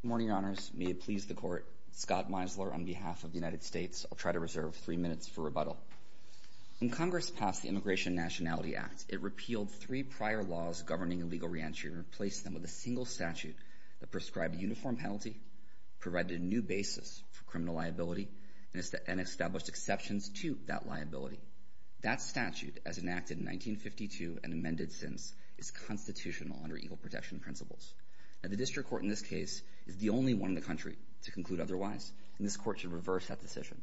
Good morning, Your Honors. May it please the Court, Scott Meisler, on behalf of the United States, I'll try to reserve three minutes for rebuttal. When Congress passed the Immigration and Nationality Act, it repealed three prior laws governing illegal reentry and replaced them with a single statute that prescribed a uniform penalty, provided a new basis for criminal liability, and established exceptions to that liability. That statute, as enacted in 1952 and amended since, is constitutional under equal protection principles. The District Court, in this case, is the only one in the country to conclude otherwise. This Court should reverse that decision.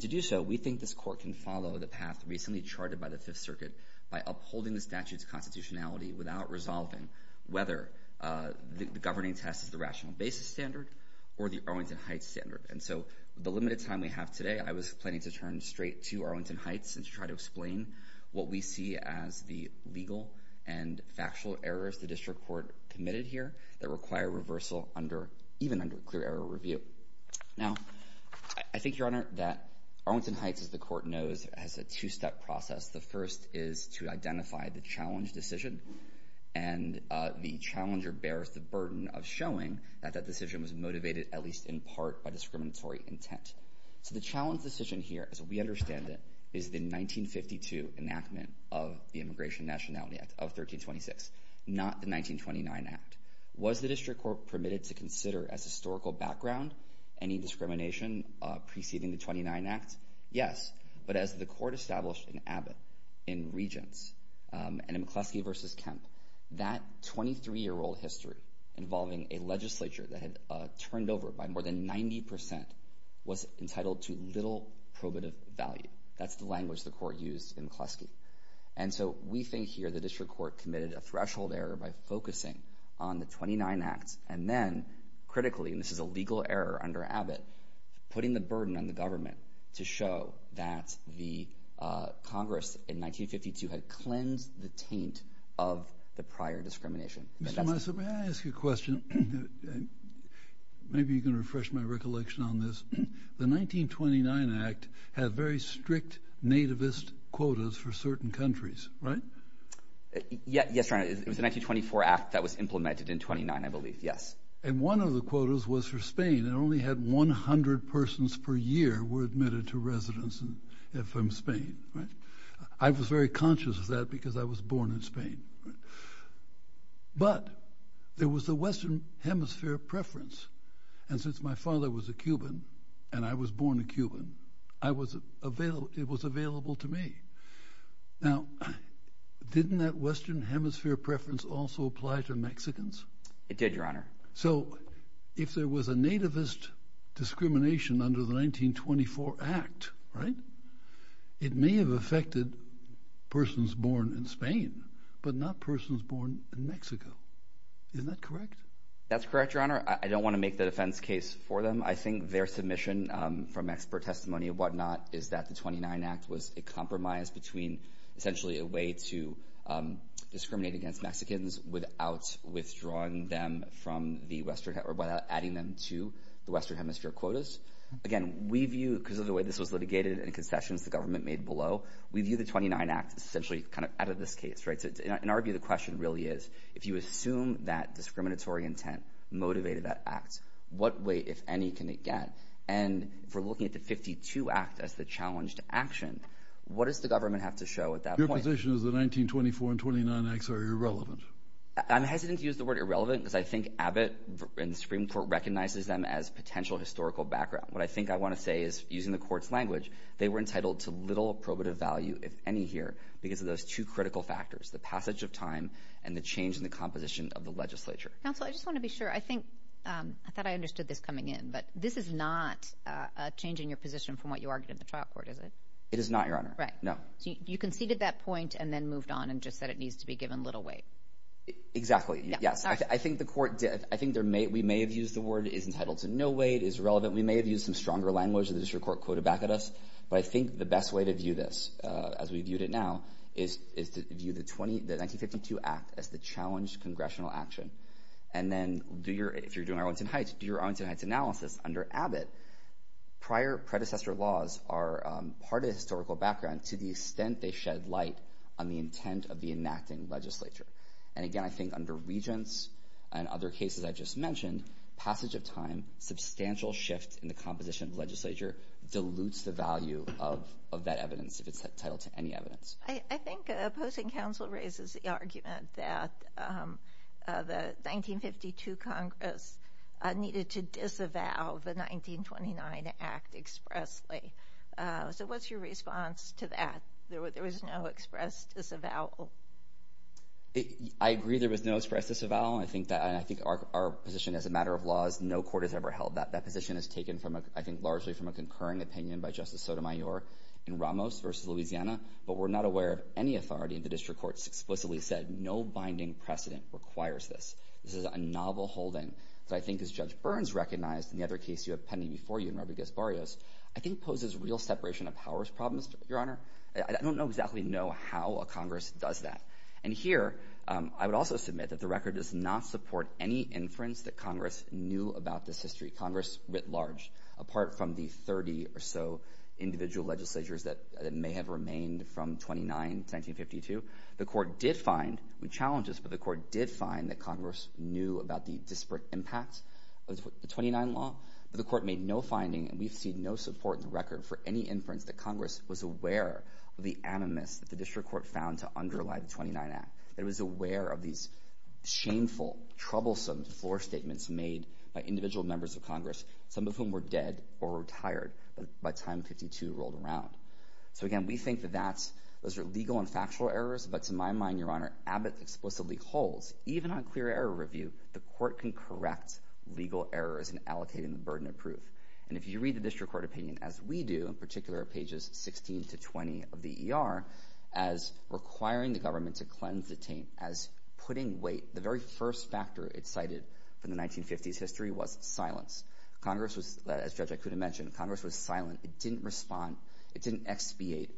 To do so, we think this Court can follow the path recently charted by the Fifth Circuit by upholding the statute's constitutionality without resolving whether the governing test is the rational basis standard or the Arlington Heights standard. And so, with the limited time we have today, I was planning to turn straight to Arlington Heights and to try to explain what we see as the legal and factual errors the District Court committed here that require reversal even under a clear error review. Now, I think, Your Honor, that Arlington Heights, as the Court knows, has a two-step process. The first is to identify the challenge decision, and the challenger bears the burden of showing that that decision was motivated, at least in part, by discriminatory intent. So the challenge decision here, as we understand it, is the 1952 enactment of the Immigration Nationality Act of 1326, not the 1929 Act. Was the District Court permitted to consider as historical background any discrimination preceding the 29 Act? Yes, but as the Court established in Abbott in Regents, and in McCleskey v. Kemp, that 23-year-old history involving a legislature that had turned over by more than 90% was entitled to little probative value. That's the language the Court used in McCleskey. And so we think here the District Court committed a threshold error by focusing on the 29 Act and then, critically, and this is a legal error under Abbott, putting the burden on the government to show that the Congress, in 1952, had cleansed the taint of the prior discrimination. Mr. Massa, may I ask you a question? Maybe you can refresh my recollection on this. The 1929 Act had very strict nativist quotas for certain countries, right? Yes, Your Honor, it was the 1924 Act that was implemented in 29, I believe, yes. And one of the quotas was for Spain. It only had 100 persons per year were admitted to residence from Spain, right? I was very conscious of that because I was born in Spain. But there was a Western Hemisphere preference. And since my father was a Cuban, and I was born a Cuban, it was available to me. Now, didn't that Western Hemisphere preference also apply to Mexicans? It did, Your Honor. So if there was a nativist discrimination under the 1924 Act, right, it may have affected persons born in Spain, but not persons born in Mexico, isn't that correct? That's correct, Your Honor. I don't want to make the defense case for them. I think their submission from expert testimony and whatnot is that the 29 Act was a compromise between essentially a way to discriminate against Mexicans without withdrawing them from the Western, or without adding them to the Western Hemisphere quotas. Again, we view, because of the way this was litigated and concessions the government made below, we view the 29 Act essentially kind of out of this case, right? In our view, the question really is, if you assume that discriminatory intent motivated that act, what way, if any, can it get? And if we're looking at the 52 Act as the challenge to action, what does the government have to show at that point? Your position is that 1924 and 29 Acts are irrelevant. I'm hesitant to use the word irrelevant because I think Abbott and the Supreme Court recognizes them as potential historical background. What I think I want to say is, using the Court's language, they were entitled to little probative value, if any here, because of those two critical factors, the passage of time and the change in the composition of the legislature. Counsel, I just want to be sure. I think, I thought I understood this coming in, but this is not a change in your position from what you argued in the trial court, is it? It is not, Your Honor. Right. No. So you conceded that point and then moved on and just said it needs to be given little weight. Exactly. Yes. I think the Court did. I think we may have used the word is entitled to no weight, is irrelevant. We may have used some stronger language that the District Court quoted back at us, but I think the best way to view this, as we viewed it now, is to view the 1952 Act as the challenge congressional action. And then, if you're doing Arlington Heights, do your Arlington Heights analysis. Under Abbott, prior predecessor laws are part of the historical background to the extent they shed light on the intent of the enacting legislature. And again, I think under Regents and other cases I just mentioned, passage of time, substantial shift in the composition of the legislature, dilutes the value of that evidence, if it's entitled to any evidence. I think opposing counsel raises the argument that the 1952 Congress needed to disavow the 1929 Act expressly. So what's your response to that? There was no express disavowal. I agree there was no express disavowal. I think our position as a matter of law is no court has ever held that. That position is taken, I think, largely from a concurring opinion by Justice Sotomayor in Ramos v. Louisiana, but we're not aware of any authority in the district courts explicitly said no binding precedent requires this. This is a novel holding that I think, as Judge Burns recognized in the other case you have pending before you in Robert Gasparrios, I think poses real separation of powers problems, Your Honor. I don't know exactly how a Congress does that. And here, I would also submit that the record does not support any inference that Congress knew about this history. Congress, writ large, apart from the 30 or so individual legislatures that may have remained from 29 to 1952, the Court did find, with challenges, but the Court did find that Congress knew about the disparate impact of the 29 law, but the Court made no finding and we've seen no support in the record for any inference that Congress was aware of the animus that the district court found to underlie the 29 Act, that it was aware of these shameful, troublesome floor statements made by individual members of Congress, some of whom were dead or retired by time 52 rolled around. So again, we think that those are legal and factual errors, but to my mind, Your Honor, Abbott explicitly holds, even on clear error review, the Court can correct legal errors in allocating the burden of proof. And if you read the district court opinion, as we do, in particular pages 16 to 20 of the first factor it cited from the 1950s history was silence. Congress was, as Judge Ikuda mentioned, Congress was silent, it didn't respond, it didn't expiate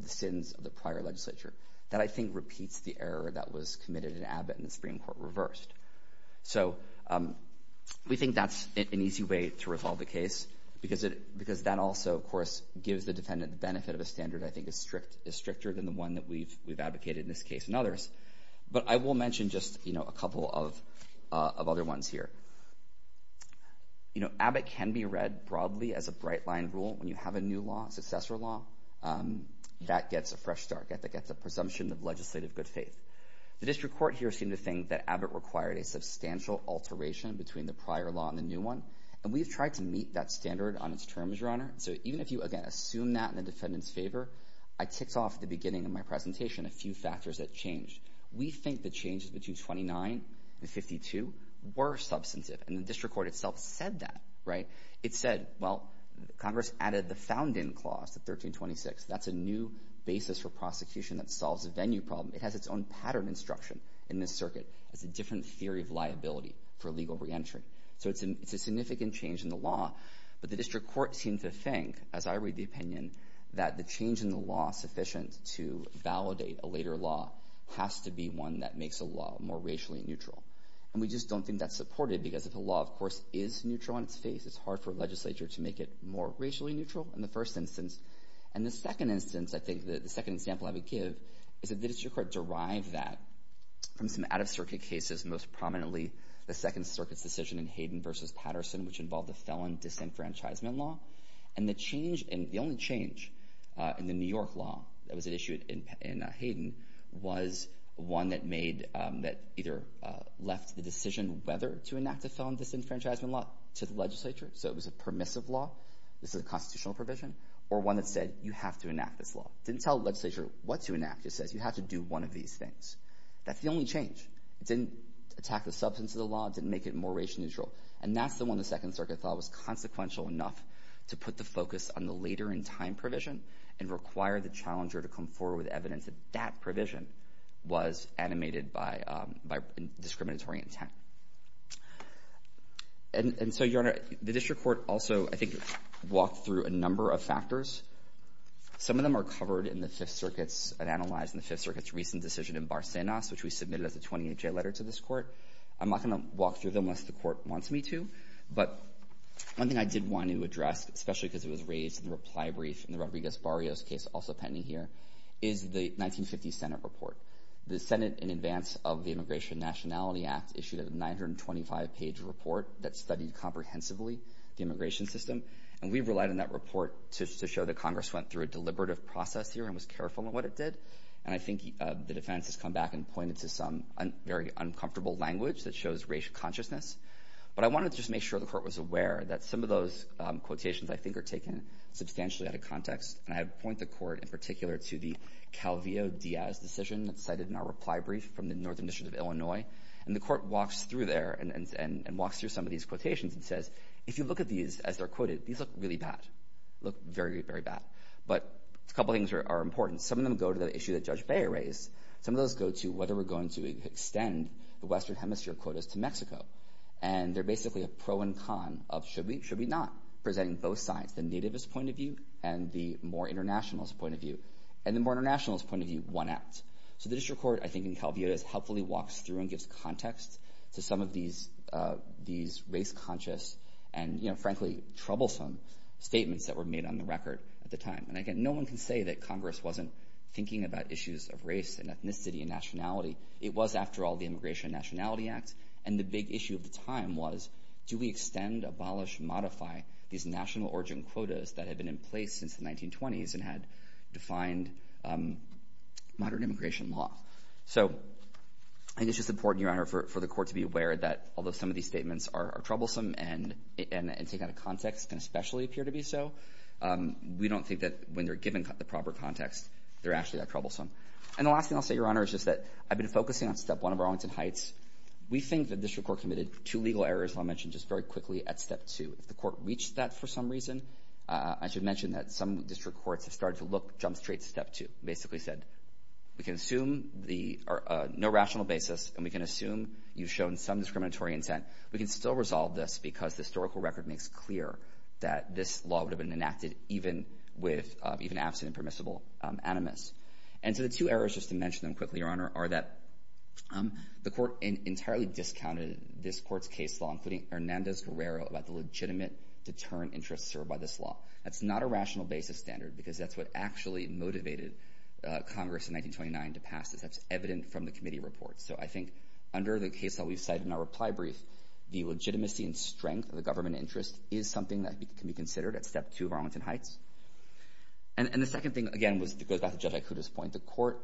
the sins of the prior legislature. That I think repeats the error that was committed in Abbott and the Supreme Court reversed. So we think that's an easy way to resolve the case because that also, of course, gives the defendant the benefit of a standard I think is stricter than the one that we've advocated in this case and others. But I will mention just a couple of other ones here. Abbott can be read broadly as a bright line rule when you have a new law, successor law, that gets a fresh start, that gets a presumption of legislative good faith. The district court here seemed to think that Abbott required a substantial alteration between the prior law and the new one, and we've tried to meet that standard on its terms, Your Honor. So even if you, again, assume that in the defendant's favor, I ticked off at the beginning of my presentation a few factors that changed. We think the changes between 29 and 52 were substantive, and the district court itself said that, right? It said, well, Congress added the found-in clause to 1326. That's a new basis for prosecution that solves a venue problem. It has its own pattern instruction in this circuit. It's a different theory of liability for legal re-entry. So it's a significant change in the law, but the district court seemed to think, as I read the opinion, that the change in the law sufficient to validate a later law has to be one that makes a law more racially neutral, and we just don't think that's supported because if a law, of course, is neutral on its face, it's hard for a legislature to make it more racially neutral in the first instance. And the second instance, I think, the second example I would give is that the district court derived that from some out-of-circuit cases, most prominently the Second Circuit's decision in Hayden v. Patterson, which involved a felon disenfranchisement law, and the change in, the only change in the New York law that was issued in Hayden was one that made, that either left the decision whether to enact a felon disenfranchisement law to the legislature, so it was a permissive law, this is a constitutional provision, or one that said, you have to enact this law. It didn't tell the legislature what to enact. It says, you have to do one of these things. That's the only change. It didn't attack the substance of the law, it didn't make it more racially neutral. And that's the one the Second Circuit thought was consequential enough to put the focus on the later-in-time provision and require the challenger to come forward with evidence that that provision was animated by discriminatory intent. And so, Your Honor, the district court also, I think, walked through a number of factors. Some of them are covered in the Fifth Circuit's, analyzed in the Fifth Circuit's recent decision in Barsenas, which we submitted as a 28-J letter to this court. I'm not going to walk through them unless the court wants me to, but one thing I did want to address, especially because it was raised in the reply brief in the Rodriguez-Barrios case also pending here, is the 1950 Senate report. The Senate, in advance of the Immigration Nationality Act, issued a 925-page report that studied comprehensively the immigration system, and we relied on that report to show that Congress went through a deliberative process here and was careful in what it did. And I think the defense has come back and pointed to some very uncomfortable language that shows racial consciousness. But I wanted to just make sure the court was aware that some of those quotations, I think, are taken substantially out of context, and I point the court, in particular, to the Calvillo-Diaz decision that's cited in our reply brief from the Northern District of Illinois, and the court walks through there and walks through some of these quotations and says, if you look at these as they're quoted, these look really bad, look very, very bad. But a couple things are important. Some of them go to the issue that Judge Bayer raised. Some of those go to whether we're going to extend the Western Hemisphere quotas to Mexico. And they're basically a pro and con of should we, should we not, presenting both sides, the nativist point of view and the more internationalist point of view. And the more internationalist point of view won out. So the district court, I think, in Calvillo-Diaz helpfully walks through and gives context to some of these race-conscious and, frankly, troublesome statements that were made on the record at the time. And again, no one can say that Congress wasn't thinking about issues of race and ethnicity and nationality. It was, after all, the Immigration and Nationality Act. And the big issue of the time was, do we extend, abolish, modify these national origin quotas that had been in place since the 1920s and had defined modern immigration law? So I think it's just important, Your Honor, for the court to be aware that, although some of these statements are troublesome and take out of context and especially appear to be so, we don't think that, when they're given the proper context, they're actually that troublesome. And the last thing I'll say, Your Honor, is just that I've been focusing on step one of Arlington Heights. We think the district court committed two legal errors I'll mention just very quickly at step two. If the court reached that for some reason, I should mention that some district courts have started to look, jump straight to step two, basically said, we can assume the no rational basis and we can assume you've shown some discriminatory intent, we can still resolve this because the historical record makes clear that this law would have been enacted even with, even absent a permissible animus. And so the two errors, just to mention them quickly, Your Honor, are that the court entirely discounted this court's case law, including Hernandez-Guerrero, about the legitimate deterrent interests served by this law. That's not a rational basis standard because that's what actually motivated Congress in 1929 to pass this. That's evident from the committee reports. So I think under the case that we've cited in our reply brief, the legitimacy and strength of the government interest is something that can be considered at step two of Arlington Heights. And the second thing, again, goes back to Judge Ikuta's point, the court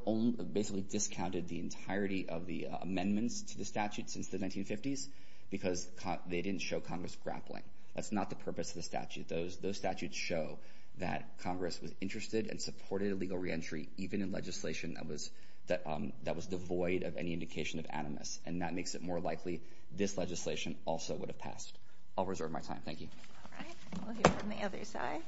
basically discounted the entirety of the amendments to the statute since the 1950s because they didn't show Congress grappling. That's not the purpose of the statute. Those statutes show that Congress was interested and supported a legal reentry, even in legislation that was devoid of any indication of animus. And that makes it more likely this legislation also would have passed. I'll reserve my time. Thank you. All right. We'll hear from the other side.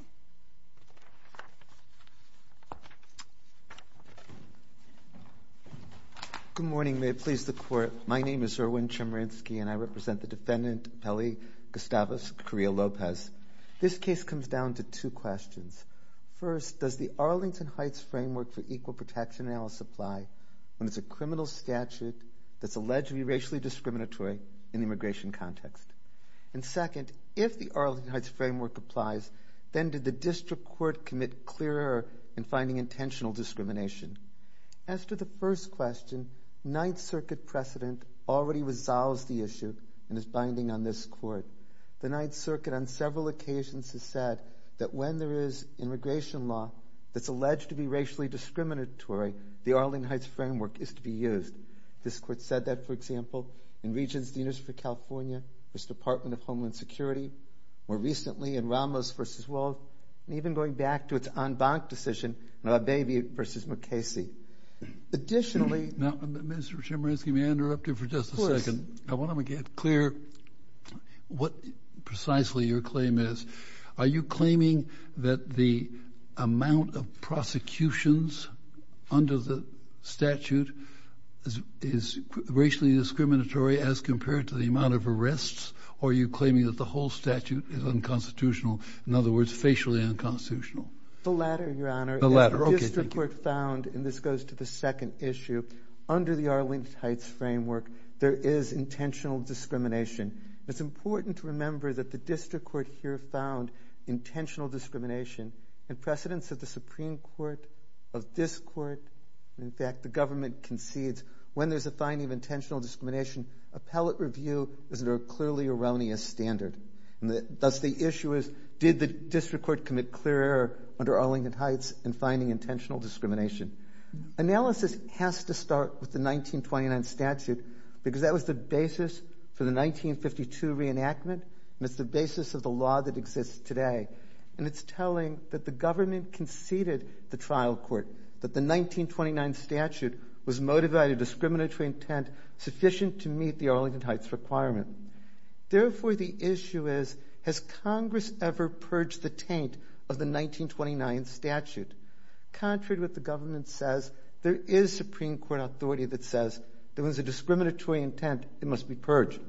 Good morning. May it please the Court. My name is Erwin Chemerinsky and I represent the defendant, Peli Gustavus Carrillo Lopez. This case comes down to two questions. First, does the Arlington Heights framework for equal protection analysis apply when it's a criminal statute that's alleged to be racially discriminatory in the immigration context? And second, if the Arlington Heights framework applies, then did the district court commit clear error in finding intentional discrimination? As to the first question, Ninth Circuit precedent already resolves the issue and is binding on this Court. The Ninth Circuit on several occasions has said that when there is immigration law that's alleged to be racially discriminatory, the Arlington Heights framework is to be used. This Court said that, for example, in Regents, the University of California, this Department of Homeland Security, more recently in Ramos v. Wald, and even going back to its en banc decision in Abebe v. Mukasey. Additionally... Now, Mr. Chemerinsky, may I interrupt you for just a second? Of course. I want to make it clear what precisely your claim is. Are you claiming that the amount of prosecutions under the statute is racially discriminatory as compared to the amount of arrests? Or are you claiming that the whole statute is unconstitutional, in other words, facially unconstitutional? The latter, Your Honor. The latter. Okay, thank you. The district court found, and this goes to the second issue, under the Arlington Heights framework, there is intentional discrimination. It's important to remember that the district court here found intentional discrimination. In precedence of the Supreme Court, of this Court, in fact, the government concedes when there's a finding of intentional discrimination, appellate review is under a clearly erroneous standard. And thus, the issue is, did the district court commit clear error under Arlington Heights in finding intentional discrimination? Analysis has to start with the 1929 statute, because that was the basis for the 1952 reenactment, and it's the basis of the law that exists today. And it's telling that the government conceded the trial court, that the 1929 statute was motivated discriminatory intent sufficient to meet the Arlington Heights requirement. Therefore, the issue is, has Congress ever purged the taint of the 1929 statute? Contrary to what the government says, there is Supreme Court authority that says, if there was a discriminatory intent, it must be purged.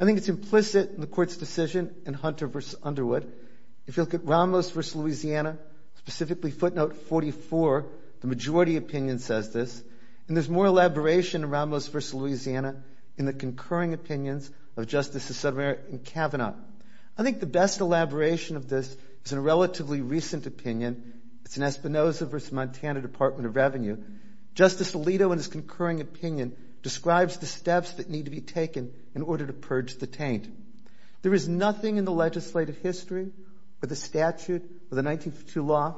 I think it's implicit in the Court's decision in Hunter v. Underwood. If you look at Ramos v. Louisiana, specifically footnote 44, the majority opinion says this. And there's more elaboration in Ramos v. Louisiana in the concurring opinions of Justices Sudameric and Kavanaugh. I think the best elaboration of this is in a relatively recent opinion. It's in Espinoza v. Montana Department of Revenue. Justice Alito, in his concurring opinion, describes the steps that need to be taken in order to purge the taint. There is nothing in the legislative history, or the statute, or the 1952 law,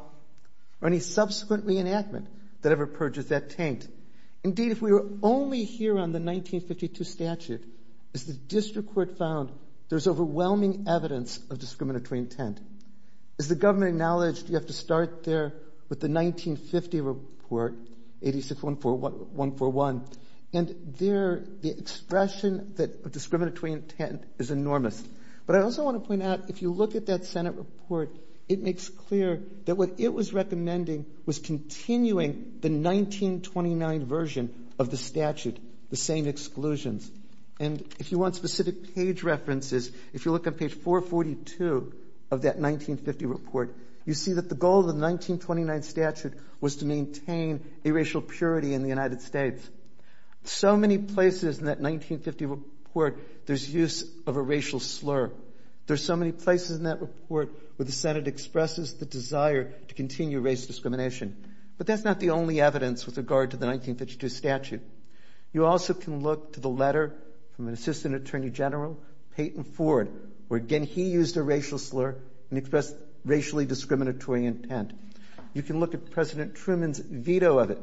or any subsequent reenactment that ever purges that taint. Indeed, if we were only here on the 1952 statute, as the district court found, there's overwhelming evidence of discriminatory intent. As the government acknowledged, you have to start there with the 1950 report, 86-141. And there, the expression that discriminatory intent is enormous. But I also want to point out, if you look at that Senate report, it makes clear that what it was recommending was continuing the 1929 version of the statute, the same exclusions. And if you want specific page references, if you look at page 442 of that 1950 report, you see that the goal of the 1929 statute was to maintain a racial purity in the United States. So many places in that 1950 report, there's use of a racial slur. There's so many places in that report where the Senate expresses the desire to continue race discrimination. But that's not the only evidence with regard to the 1952 statute. You also can look to the letter from an assistant attorney general, Peyton Ford, where again he used a racial slur and expressed racially discriminatory intent. You can look at President Truman's veto of it.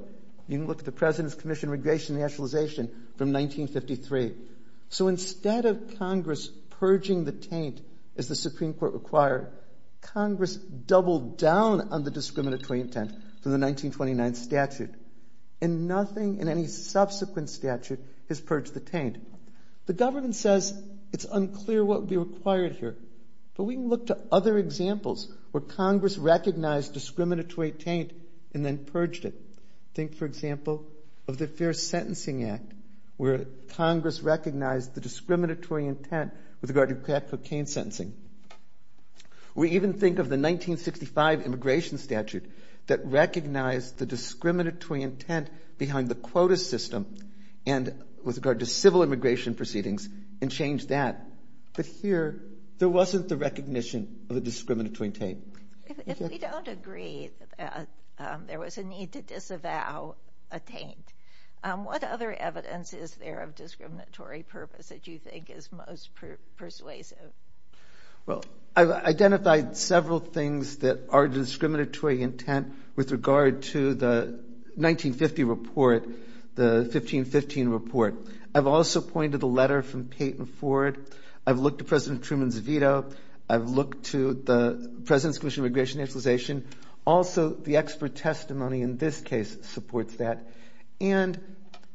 You can look at the President's Commission on Regression and Nationalization from 1953. So instead of Congress purging the taint, as the Supreme Court required, Congress doubled down on the discriminatory intent for the 1929 statute. And nothing in any subsequent statute has purged the taint. The government says it's unclear what would be required here, but we can look to other examples where Congress recognized discriminatory taint and then purged it. Think for example of the Fair Sentencing Act, where Congress recognized the discriminatory intent with regard to crack cocaine sentencing. We even think of the 1965 immigration statute that recognized the discriminatory intent behind the quota system and with regard to civil immigration proceedings and changed that. But here, there wasn't the recognition of the discriminatory taint. If we don't agree that there was a need to disavow a taint, what other evidence is there of discriminatory purpose that you think is most persuasive? Well, I've identified several things that are discriminatory intent with regard to the 1950 report, the 1515 report. I've also pointed the letter from Peyton Ford. I've looked at President Truman's veto. I've looked to the President's Commission on Regression and Nationalization. Also the expert testimony in this case supports that. And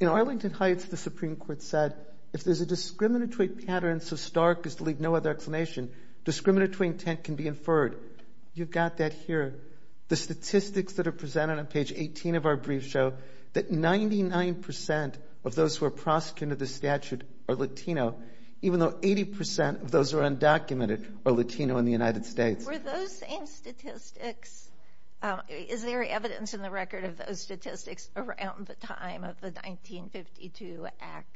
in Arlington Heights, the Supreme Court said if there's a discriminatory pattern so other explanation, discriminatory intent can be inferred. You've got that here. The statistics that are presented on page 18 of our brief show that 99% of those who are prosecuted in the statute are Latino, even though 80% of those who are undocumented are Latino in the United States. Were those same statistics? Is there evidence in the record of those statistics around the time of the 1952 Act?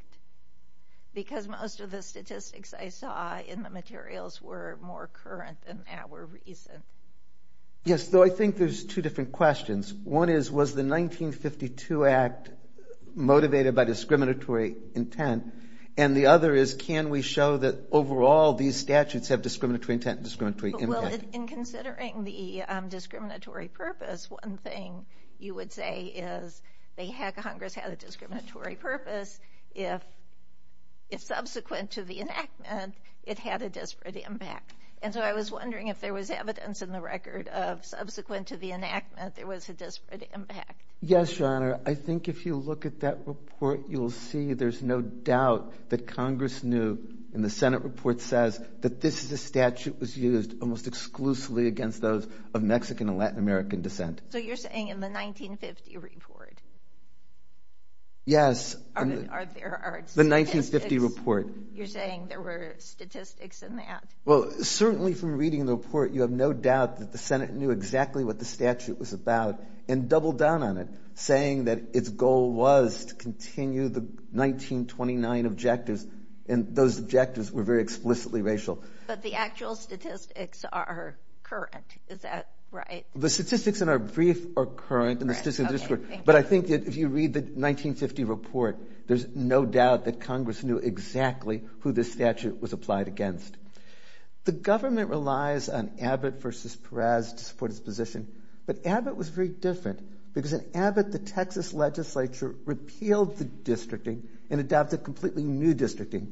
Because most of the statistics I saw in the materials were more current than that were recent. Yes, though I think there's two different questions. One is, was the 1952 Act motivated by discriminatory intent? And the other is, can we show that overall these statutes have discriminatory intent and discriminatory intent? Well, in considering the discriminatory purpose, one thing you would say is they had, Congress had a discriminatory purpose if subsequent to the enactment, it had a disparate impact. And so I was wondering if there was evidence in the record of subsequent to the enactment, there was a disparate impact. Yes, Your Honor. I think if you look at that report, you'll see there's no doubt that Congress knew in the Senate report says that this statute was used almost exclusively against those of Mexican and Latin American descent. So you're saying in the 1950 report? Yes. Are there... The 1950 report. You're saying there were statistics in that? Well, certainly from reading the report, you have no doubt that the Senate knew exactly what the statute was about and doubled down on it, saying that its goal was to continue the 1929 objectives and those objectives were very explicitly racial. But the actual statistics are current, is that right? The statistics in our brief are current, but I think that if you read the 1950 report, there's no doubt that Congress knew exactly who this statute was applied against. The government relies on Abbott versus Perez to support its position, but Abbott was very different because in Abbott, the Texas legislature repealed the districting and adopted completely new districting.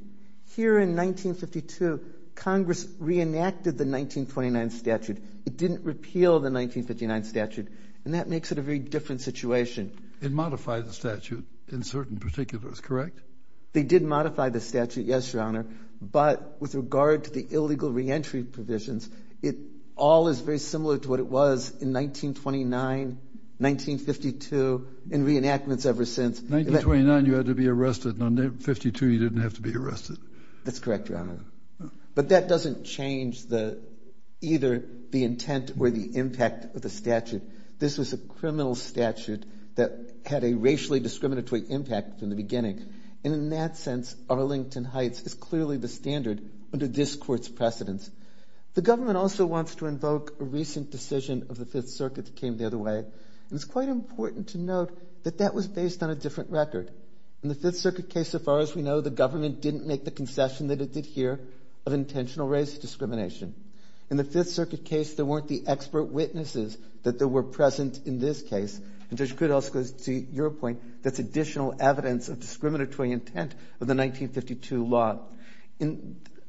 Here in 1952, Congress reenacted the 1929 statute. It didn't repeal the 1959 statute, and that makes it a very different situation. It modified the statute in certain particulars, correct? They did modify the statute, yes, Your Honor, but with regard to the illegal reentry provisions, it all is very similar to what it was in 1929, 1952, and reenactments ever since. 1929, you had to be arrested, and 1952, you didn't have to be arrested. That's correct, Your Honor. But that doesn't change either the intent or the impact of the statute. This was a criminal statute that had a racially discriminatory impact from the beginning, and in that sense, Arlington Heights is clearly the standard under this court's precedence. The government also wants to invoke a recent decision of the Fifth Circuit that came the other way, and it's quite important to note that that was based on a different record. In the Fifth Circuit case, so far as we know, the government didn't make the concession that it did here of intentional race discrimination. In the Fifth Circuit case, there weren't the expert witnesses that were present in this case, and Judge Kudos, to your point, that's additional evidence of discriminatory intent of the 1952 law.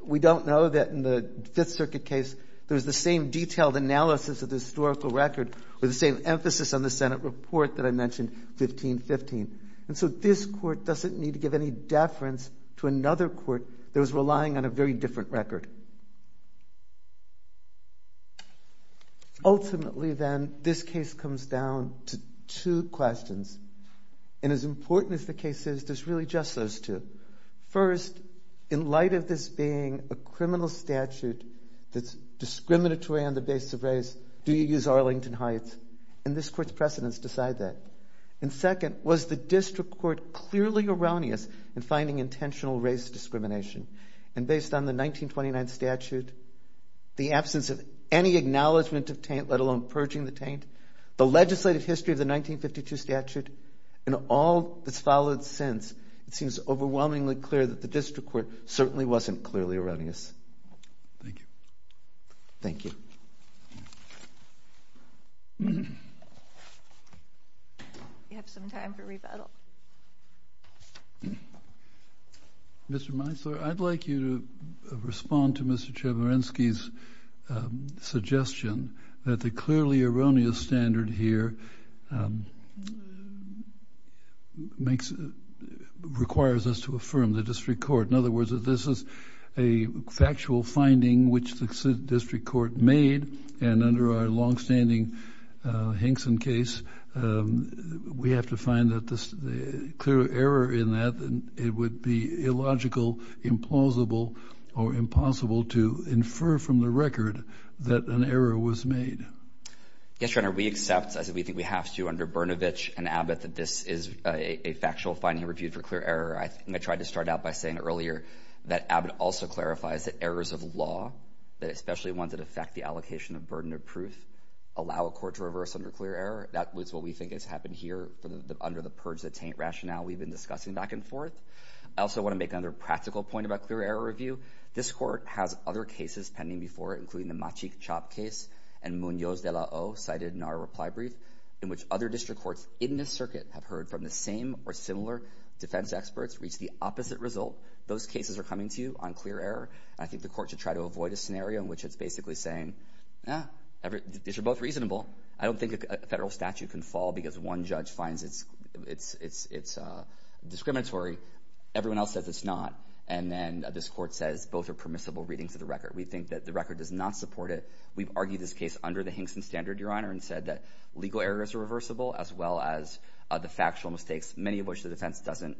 We don't know that in the Fifth Circuit case, there was the same detailed analysis of the historical record with the same emphasis on the Senate report that I mentioned, 1515. And so this court doesn't need to give any deference to another court. It was relying on a very different record. Ultimately, then, this case comes down to two questions, and as important as the case is, there's really just those two. First, in light of this being a criminal statute that's discriminatory on the basis of race, do you use Arlington Heights? And this court's precedence decides that. And second, was the district court clearly erroneous in finding intentional race discrimination? And based on the 1929 statute, the absence of any acknowledgment of taint, let alone purging the taint, the legislative history of the 1952 statute, and all that's followed since, it seems overwhelmingly clear that the district court certainly wasn't clearly erroneous. Thank you. Thank you. Do you have some time for rebuttal? Mr. Meisler, I'd like you to respond to Mr. Chemerinsky's suggestion that the clearly erroneous standard here requires us to affirm the district court. In other words, that this is a factual finding which the district court made, and under our longstanding Hinkson case, we have to find that the clear error in that, it would be illogical, implausible, or impossible to infer from the record that an error was made. Yes, Your Honor, we accept, as we think we have to under Brnovich and Abbott, that this is a factual finding reviewed for clear error. I think I tried to start out by saying earlier that Abbott also clarifies that errors of law, especially ones that affect the allocation of burden of proof, allow a court to reverse under clear error. That is what we think has happened here under the purge the taint rationale we've been discussing back and forth. I also want to make another practical point about clear error review. This court has other cases pending before it, including the Machique Chop case and Munoz de la O, cited in our reply brief, in which other district courts in this circuit have in the same or similar defense experts reached the opposite result. Those cases are coming to you on clear error, and I think the court should try to avoid a scenario in which it's basically saying, yeah, these are both reasonable. I don't think a federal statute can fall because one judge finds it's discriminatory. Everyone else says it's not. And then this court says both are permissible readings of the record. We think that the record does not support it. We've argued this case under the Hinkson standard, Your Honor, and said that legal errors are mistakes, many of which the defense doesn't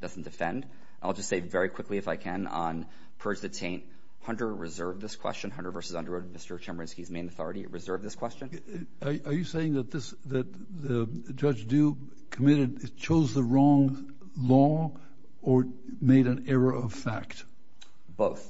defend. I'll just say very quickly, if I can, on purge the taint, Hunter reserved this question. Hunter v. Underwood, Mr. Chemerinsky's main authority, reserved this question. Are you saying that this – that Judge Dube committed – chose the wrong law or made an error of fact? Both.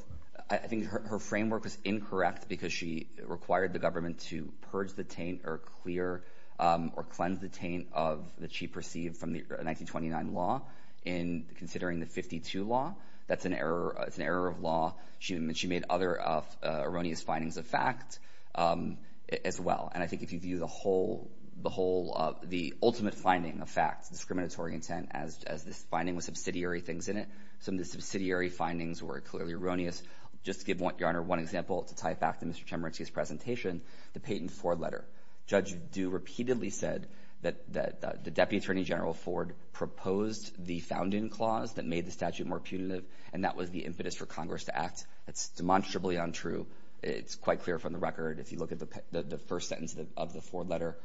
I think her framework was incorrect because she required the government to purge the taint or clear – or cleanse the taint of – that she perceived from the 1929 law in considering the 52 law. That's an error – it's an error of law. She made other erroneous findings of fact as well. And I think if you view the whole – the ultimate finding of fact, discriminatory intent, as this finding with subsidiary things in it, some of the subsidiary findings were clearly erroneous. Just to give Your Honor one example, to tie it back to Mr. Chemerinsky's presentation, the Peyton Ford letter. Judge Dube repeatedly said that the Deputy Attorney General Ford proposed the founding clause that made the statute more punitive, and that was the impetus for Congress to act. That's demonstrably untrue. It's quite clear from the record. If you look at the first sentence of the Ford letter,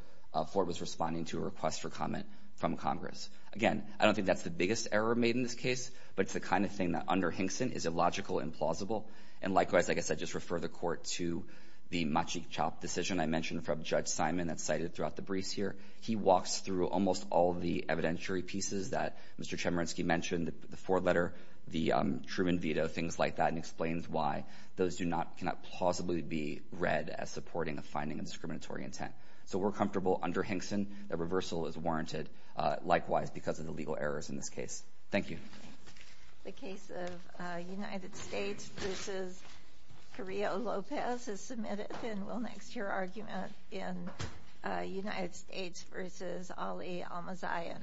Ford was responding to a request for comment from Congress. Again, I don't think that's the biggest error made in this case, but it's the kind of thing that under Hinkson is illogical and plausible. And likewise, like I said, just refer the Court to the Machik Chop decision I mentioned from Judge Simon that's cited throughout the briefs here. He walks through almost all of the evidentiary pieces that Mr. Chemerinsky mentioned, the Ford letter, the Truman veto, things like that, and explains why those do not – cannot plausibly be read as supporting a finding of discriminatory intent. So we're comfortable under Hinkson that reversal is warranted, likewise, because of the legal errors in this case. Thank you. The case of United States v. Carrillo-Lopez is submitted, and we'll next hear argument in United States v. Ali al-Mazayan.